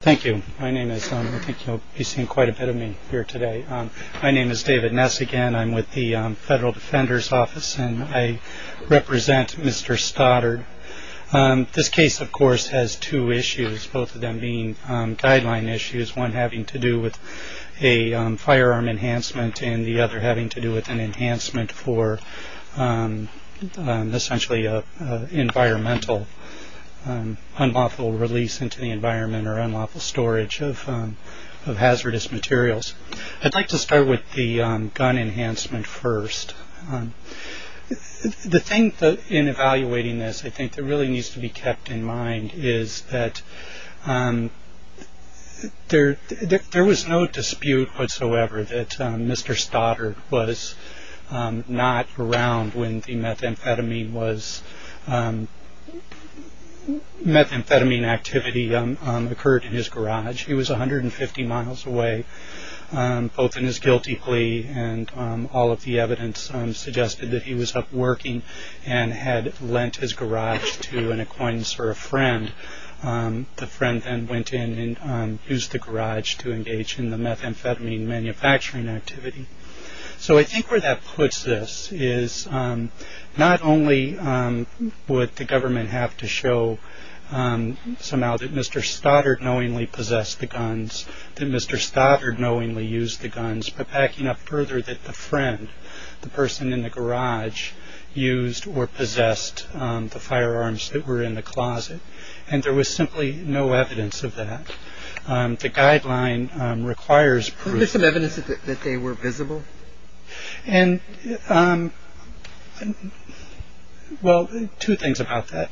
Thank you. I think you'll be seeing quite a bit of me here today. My name is David Ness again. I'm with the Federal Defender's Office and I represent Mr. Stoddard. This case, of course, has two issues, both of them being guideline issues, one having to do with a firearm enhancement and the other having to do with an enhancement for essentially an environmental, unlawful release into the environment or unlawful storage of hazardous materials. I'd like to start with the gun enhancement first. The thing in evaluating this, I think, that really needs to be kept in mind is that there was no dispute whatsoever that Mr. Stoddard was not around when the methamphetamine activity occurred in his garage. He was 150 miles away, both in his guilty plea and all of the evidence suggested that he was up working and had lent his garage to an acquaintance or a friend. The friend then went in and used the garage to engage in the methamphetamine manufacturing activity. So I think where that puts this is not only would the government have to show somehow that Mr. Stoddard knowingly possessed the guns, that Mr. Stoddard knowingly used the guns, but backing up further that the friend, the person in the garage, used or possessed the firearms that were in the closet and there was simply no evidence of that. The guideline requires proof. Was there some evidence that they were visible? Well, two things about that.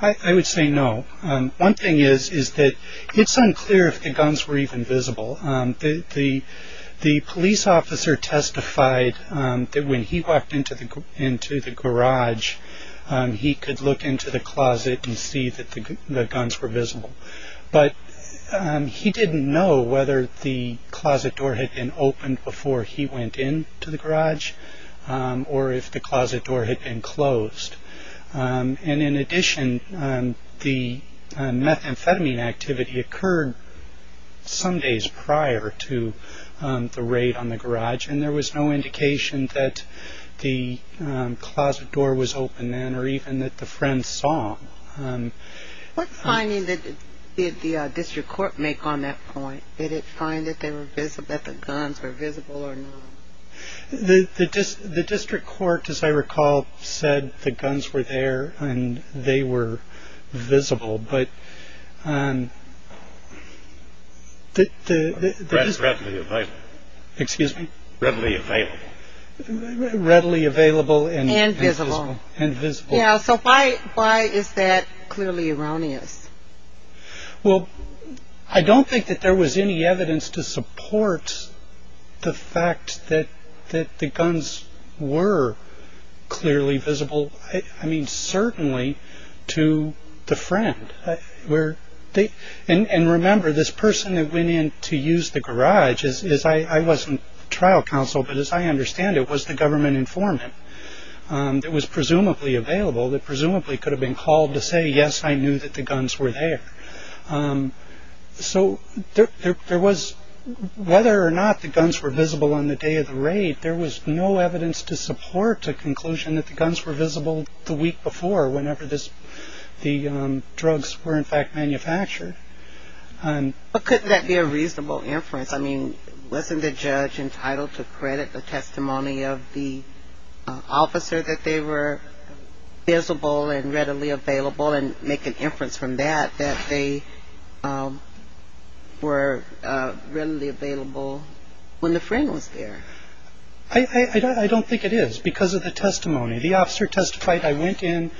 I would say no. One thing is that it's unclear if the guns were even visible. The police officer testified that when he walked into the garage, he could look into the closet and see that the guns were visible. But he didn't know whether the closet door had been opened before he went into the garage or if the closet door had been closed. And in addition, the methamphetamine activity occurred some days prior to the raid on the garage, and there was no indication that the closet door was open then or even that the friend saw him. What finding did the district court make on that point? Did it find that the guns were visible or not? The district court, as I recall, said the guns were there and they were visible. That's readily available. Excuse me? Readily available. Readily available and visible. So why is that clearly erroneous? Well, I don't think that there was any evidence to support the fact that the guns were clearly visible. I mean, certainly to the friend. And remember, this person that went in to use the garage, I wasn't trial counsel, but as I understand it was the government informant that was presumably available, that presumably could have been called to say, yes, I knew that the guns were there. So there was, whether or not the guns were visible on the day of the raid, there was no evidence to support the conclusion that the guns were visible the week before, whenever the drugs were in fact manufactured. But couldn't that be a reasonable inference? I mean, wasn't the judge entitled to credit the testimony of the officer that they were visible and readily available and make an inference from that, that they were readily available when the friend was there? I don't think it is because of the testimony. The officer testified, I went in,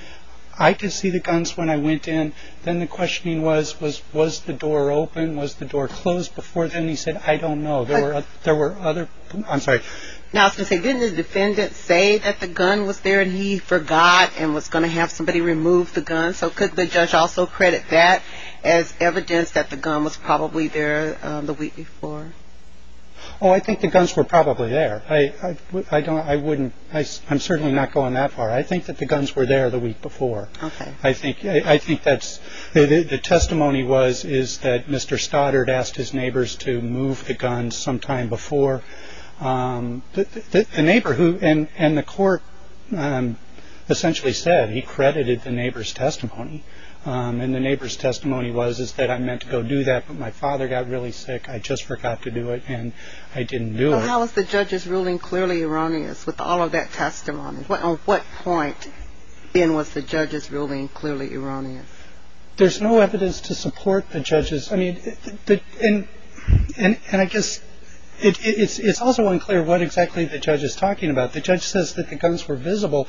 I could see the guns when I went in. Then the questioning was, was the door open? Was the door closed before then? And he said, I don't know. There were other, I'm sorry. Now I was going to say, didn't the defendant say that the gun was there and he forgot and was going to have somebody remove the gun? So could the judge also credit that as evidence that the gun was probably there the week before? Oh, I think the guns were probably there. I don't, I wouldn't, I'm certainly not going that far. I think that the guns were there the week before. I think that's, the testimony was is that Mr. Stoddard asked his neighbors to move the guns sometime before. The neighbor who, and the court essentially said he credited the neighbor's testimony. And the neighbor's testimony was is that I meant to go do that, but my father got really sick. I just forgot to do it and I didn't do it. How is the judge's ruling clearly erroneous with all of that testimony? On what point then was the judge's ruling clearly erroneous? There's no evidence to support the judge's. I mean, and I guess it's also unclear what exactly the judge is talking about. The judge says that the guns were visible,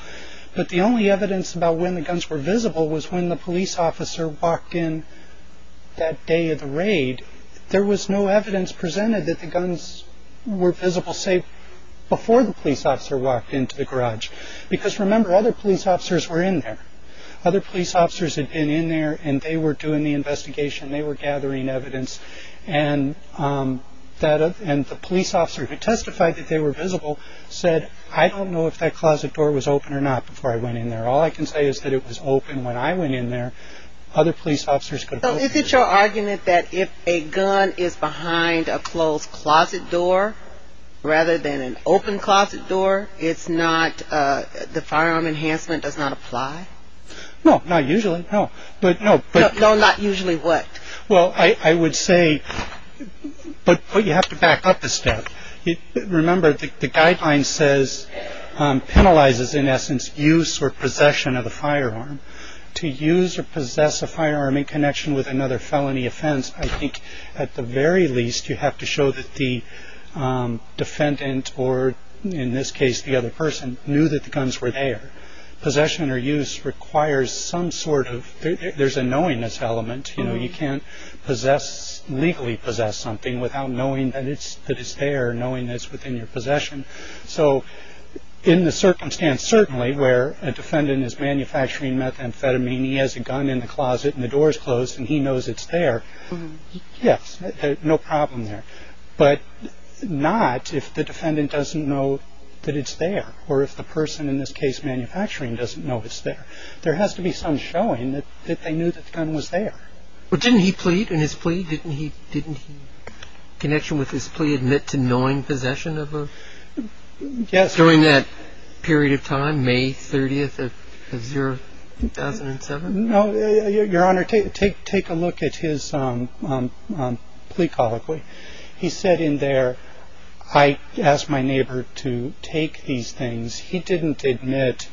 but the only evidence about when the guns were visible was when the police officer walked in that day of the raid. There was no evidence presented that the guns were visible, say, before the police officer walked into the garage. Because remember, other police officers were in there. Other police officers had been in there and they were doing the investigation. They were gathering evidence. And the police officer who testified that they were visible said, I don't know if that closet door was open or not before I went in there. All I can say is that it was open when I went in there. So is it your argument that if a gun is behind a closed closet door rather than an open closet door, it's not, the firearm enhancement does not apply? No, not usually, no. No, not usually what? Well, I would say, but you have to back up a step. Remember, the guideline says, penalizes, in essence, use or possession of a firearm. To use or possess a firearm in connection with another felony offense, I think at the very least you have to show that the defendant or, in this case, the other person, knew that the guns were there. Possession or use requires some sort of, there's a knowingness element. You can't legally possess something without knowing that it's there, knowing that it's within your possession. So in the circumstance, certainly, where a defendant is manufacturing methamphetamine, he has a gun in the closet and the door is closed and he knows it's there, yes, no problem there. But not if the defendant doesn't know that it's there or if the person, in this case, manufacturing, doesn't know it's there. There has to be some showing that they knew that the gun was there. But didn't he plead in his plea? Didn't he? Didn't he, in connection with his plea, admit to knowing possession of a gun? Yes. During that period of time, May 30th of 2007? No, Your Honor, take a look at his plea colloquy. He said in there, I asked my neighbor to take these things. He didn't admit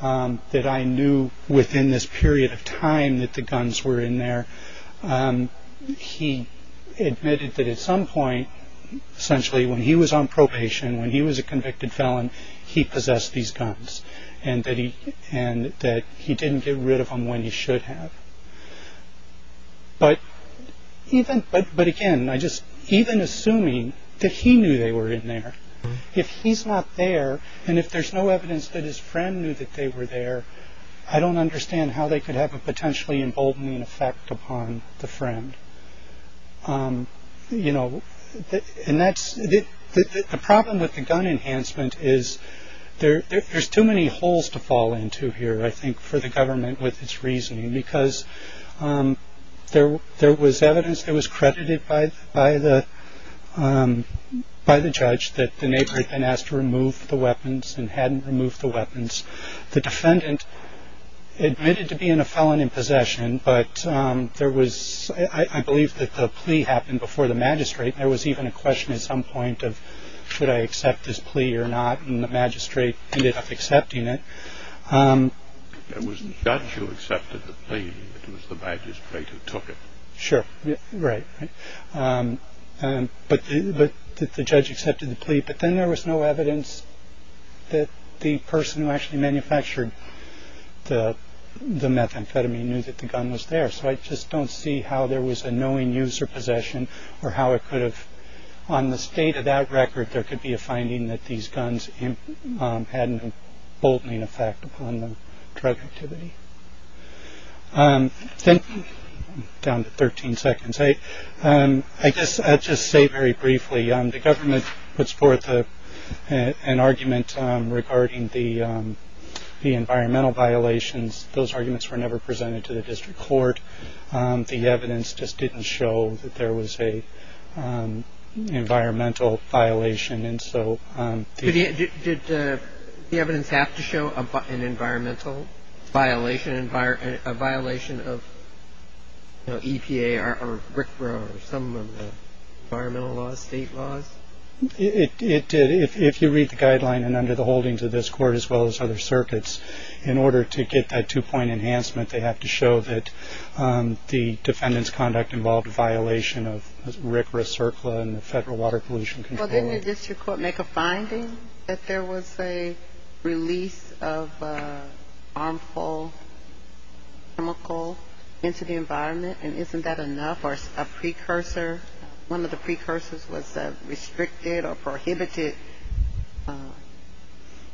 that I knew within this period of time that the guns were in there. He admitted that at some point, essentially, when he was on probation, when he was a convicted felon, he possessed these guns and that he didn't get rid of them when he should have. But again, even assuming that he knew they were in there, if he's not there and if there's no evidence that his friend knew that they were there, I don't understand how they could have a potentially emboldening effect upon the friend. You know, and that's the problem with the gun enhancement is there. There's too many holes to fall into here, I think, for the government with its reasoning, because there was evidence that was credited by the judge that the neighbor had been asked to remove the weapons and hadn't removed the weapons. The defendant admitted to being a felon in possession, but there was, I believe, that the plea happened before the magistrate. There was even a question at some point of, should I accept this plea or not? And the magistrate ended up accepting it. It was the judge who accepted the plea. It was the magistrate who took it. Sure. Right. But the judge accepted the plea. But then there was no evidence that the person who actually manufactured the methamphetamine knew that the gun was there. So I just don't see how there was a knowing user possession or how it could have on the state of that record. There could be a finding that these guns had a bolting effect on the drug activity. Down to 13 seconds. I guess I'll just say very briefly, the government puts forth an argument regarding the environmental violations. Those arguments were never presented to the district court. The evidence just didn't show that there was a environmental violation. And so did the evidence have to show an environmental violation, a violation of EPA or some environmental laws, state laws? It did. If you read the guideline and under the holdings of this court, as well as other circuits, in order to get that two-point enhancement, they have to show that the defendant's conduct involved a violation of RICRA, CERCLA, and the Federal Water Pollution Control Act. Well, didn't the district court make a finding that there was a release of harmful chemical into the environment? And isn't that enough or a precursor? One of the precursors was restricted or prohibited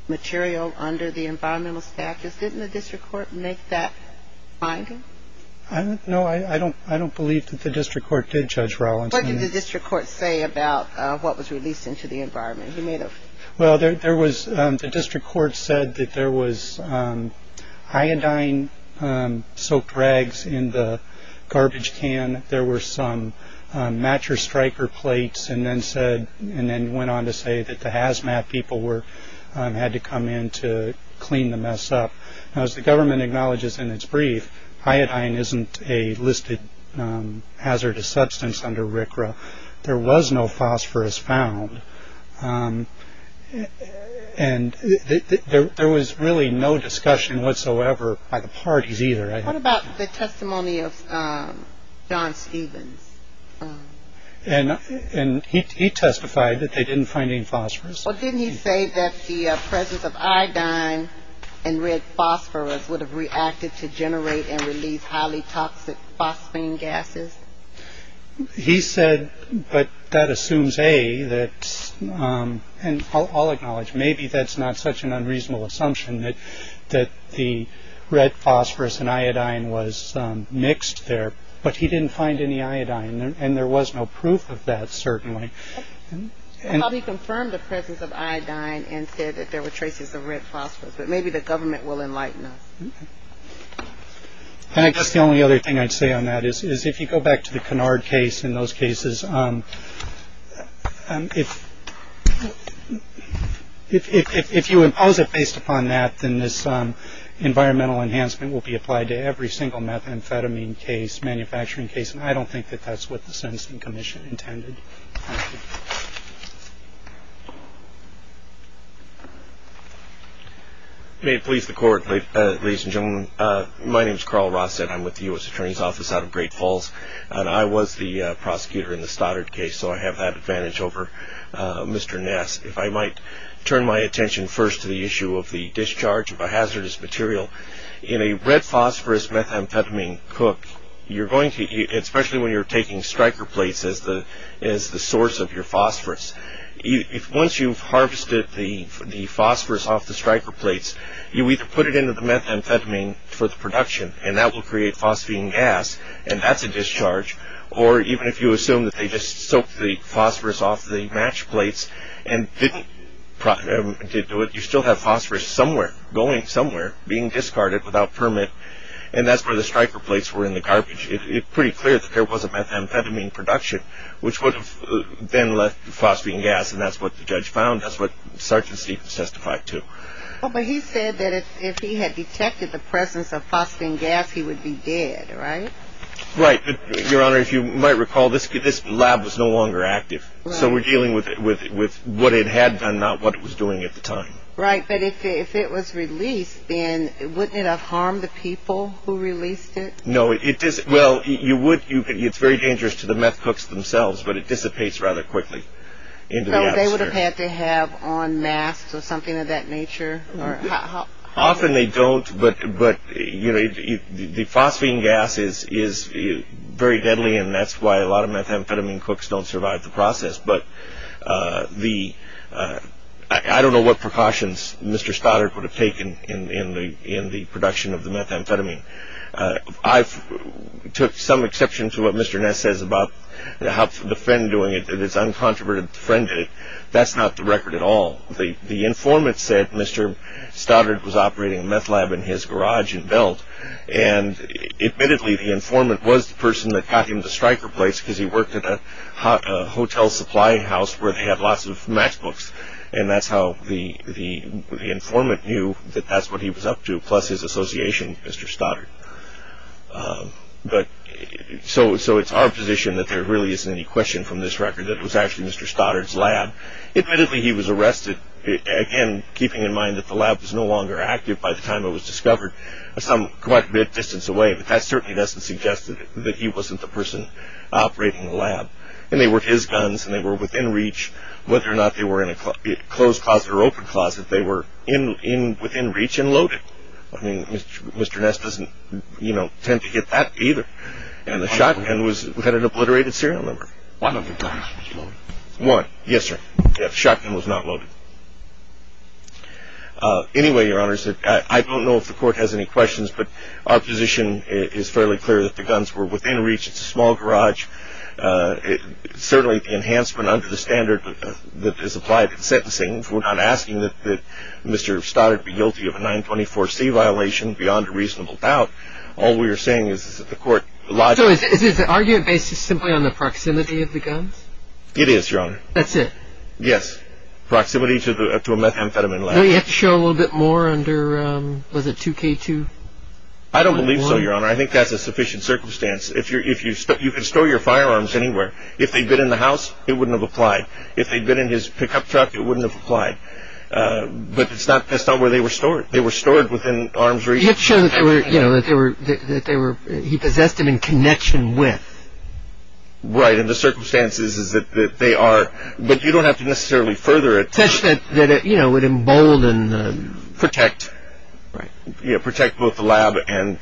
material under the environmental status. Didn't the district court make that finding? No, I don't believe that the district court did, Judge Rollins. What did the district court say about what was released into the environment? Well, the district court said that there was iodine-soaked rags in the garbage can. There were some matcher striker plates and then went on to say that the hazmat people had to come in to clean the mess up. Now, as the government acknowledges in its brief, iodine isn't a listed hazardous substance under RICRA. There was no phosphorus found. And there was really no discussion whatsoever by the parties either. What about the testimony of John Stevens? And he testified that they didn't find any phosphorus. Well, didn't he say that the presence of iodine and red phosphorus would have reacted to generate and release highly toxic phosphine gases? He said, but that assumes, A, that, and I'll acknowledge, maybe that's not such an unreasonable assumption that the red phosphorus and iodine was mixed there, but he didn't find any iodine. And there was no proof of that, certainly. He confirmed the presence of iodine and said that there were traces of red phosphorus. But maybe the government will enlighten us. And I guess the only other thing I'd say on that is, is if you go back to the canard case in those cases, if you impose it based upon that, then this environmental enhancement will be applied to every single methamphetamine case, manufacturing case, and I don't think that that's what the sentencing commission intended. Thank you. May it please the court, ladies and gentlemen, my name is Carl Rossett. I'm with the U.S. Attorney's Office out of Great Falls, and I was the prosecutor in the Stoddard case, so I have that advantage over Mr. Ness. If I might turn my attention first to the issue of the discharge of a hazardous material. In a red phosphorus methamphetamine cook, especially when you're taking striker plates as the source of your phosphorus, once you've harvested the phosphorus off the striker plates, you either put it into the methamphetamine for the production, and that will create phosphine gas, and that's a discharge, or even if you assume that they just soaked the phosphorus off the match plates and didn't do it, you still have phosphorus somewhere, going somewhere, being discarded without permit, and that's where the striker plates were in the garbage. It's pretty clear that there was a methamphetamine production, which would have then left phosphine gas, and that's what the judge found. That's what Sgt. Stevens testified to. But he said that if he had detected the presence of phosphine gas, he would be dead, right? Right. Your Honor, if you might recall, this lab was no longer active, so we're dealing with what it had done, not what it was doing at the time. Right, but if it was released, then wouldn't it have harmed the people who released it? No. Well, it's very dangerous to the meth cooks themselves, but it dissipates rather quickly into the atmosphere. So they would have had to have on masks or something of that nature? Often they don't, but the phosphine gas is very deadly, and that's why a lot of methamphetamine cooks don't survive the process. But I don't know what precautions Mr. Stoddard would have taken in the production of the methamphetamine. I took some exception to what Mr. Ness says about the friend doing it, that it's uncontroverted, the friend did it. That's not the record at all. The informant said Mr. Stoddard was operating a meth lab in his garage in Belt, and admittedly, the informant was the person that got him the striker plates, because he worked at a hotel supply house where they had lots of meth cooks, and that's how the informant knew that that's what he was up to, plus his association with Mr. Stoddard. So it's our position that there really isn't any question from this record that it was actually Mr. Stoddard's lab. Admittedly, he was arrested, again, keeping in mind that the lab was no longer active by the time it was discovered. Some quite a bit distance away, but that certainly doesn't suggest that he wasn't the person operating the lab. And they were his guns, and they were within reach. Whether or not they were in a closed closet or open closet, they were within reach and loaded. I mean, Mr. Ness doesn't, you know, tend to get that either. And the shotgun had an obliterated serial number. One of the guns was loaded. One, yes, sir. The shotgun was not loaded. Anyway, Your Honor, I don't know if the court has any questions, but our position is fairly clear that the guns were within reach. It's a small garage. Certainly, the enhancement under the standard that is applied in sentencing, we're not asking that Mr. Stoddard be guilty of a 924C violation beyond a reasonable doubt. All we are saying is that the court lodged it. So is the argument based simply on the proximity of the guns? It is, Your Honor. That's it? Yes. Proximity to a methamphetamine lab. Well, you have to show a little bit more under, was it 2K2? I don't believe so, Your Honor. I think that's a sufficient circumstance. You can store your firearms anywhere. If they'd been in the house, it wouldn't have applied. If they'd been in his pickup truck, it wouldn't have applied. But that's not where they were stored. They were stored within arms reach. You have to show that he possessed them in connection with. Right, and the circumstances is that they are. But you don't have to necessarily further it. Just that, you know, it emboldened. Protect. Right. Protect both the lab and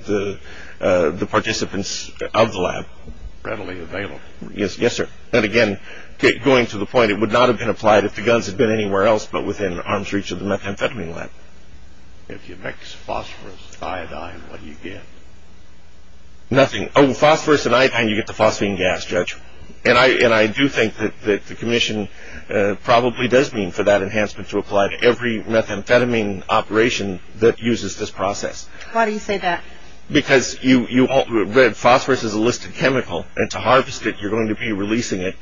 the participants of the lab. Readily available. Yes, sir. And again, going to the point, it would not have been applied if the guns had been anywhere else but within arms reach of the methamphetamine lab. If you mix phosphorus, iodine, what do you get? Nothing. Oh, phosphorus and iodine, you get the phosphine gas, Judge. And I do think that the commission probably does mean for that enhancement to apply to every methamphetamine operation that uses this process. Why do you say that? Because red phosphorus is a listed chemical. And to harvest it, you're going to be releasing it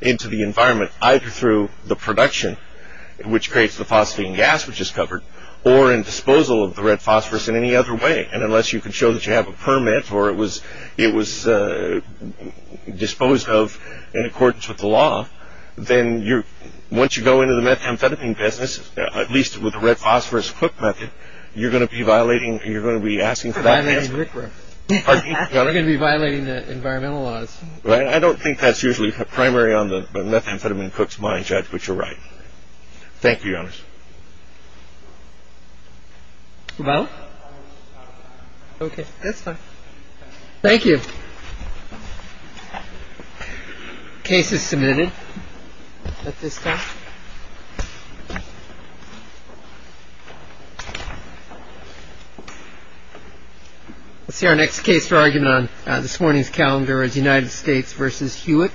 into the environment, either through the production, which creates the phosphine gas, which is covered, or in disposal of the red phosphorus in any other way. And unless you can show that you have a permit or it was disposed of in accordance with the law, then once you go into the methamphetamine business, at least with the red phosphorus cook method, you're going to be asking for that enhancement. We're going to be violating the environmental laws. I don't think that's usually primary on the methamphetamine cook's mind, Judge, but you're right. Thank you, Your Honor. Well, OK, that's fine. Thank you. Case is submitted at this time. Let's see our next case for argument on this morning's calendar is United States versus Hewitt.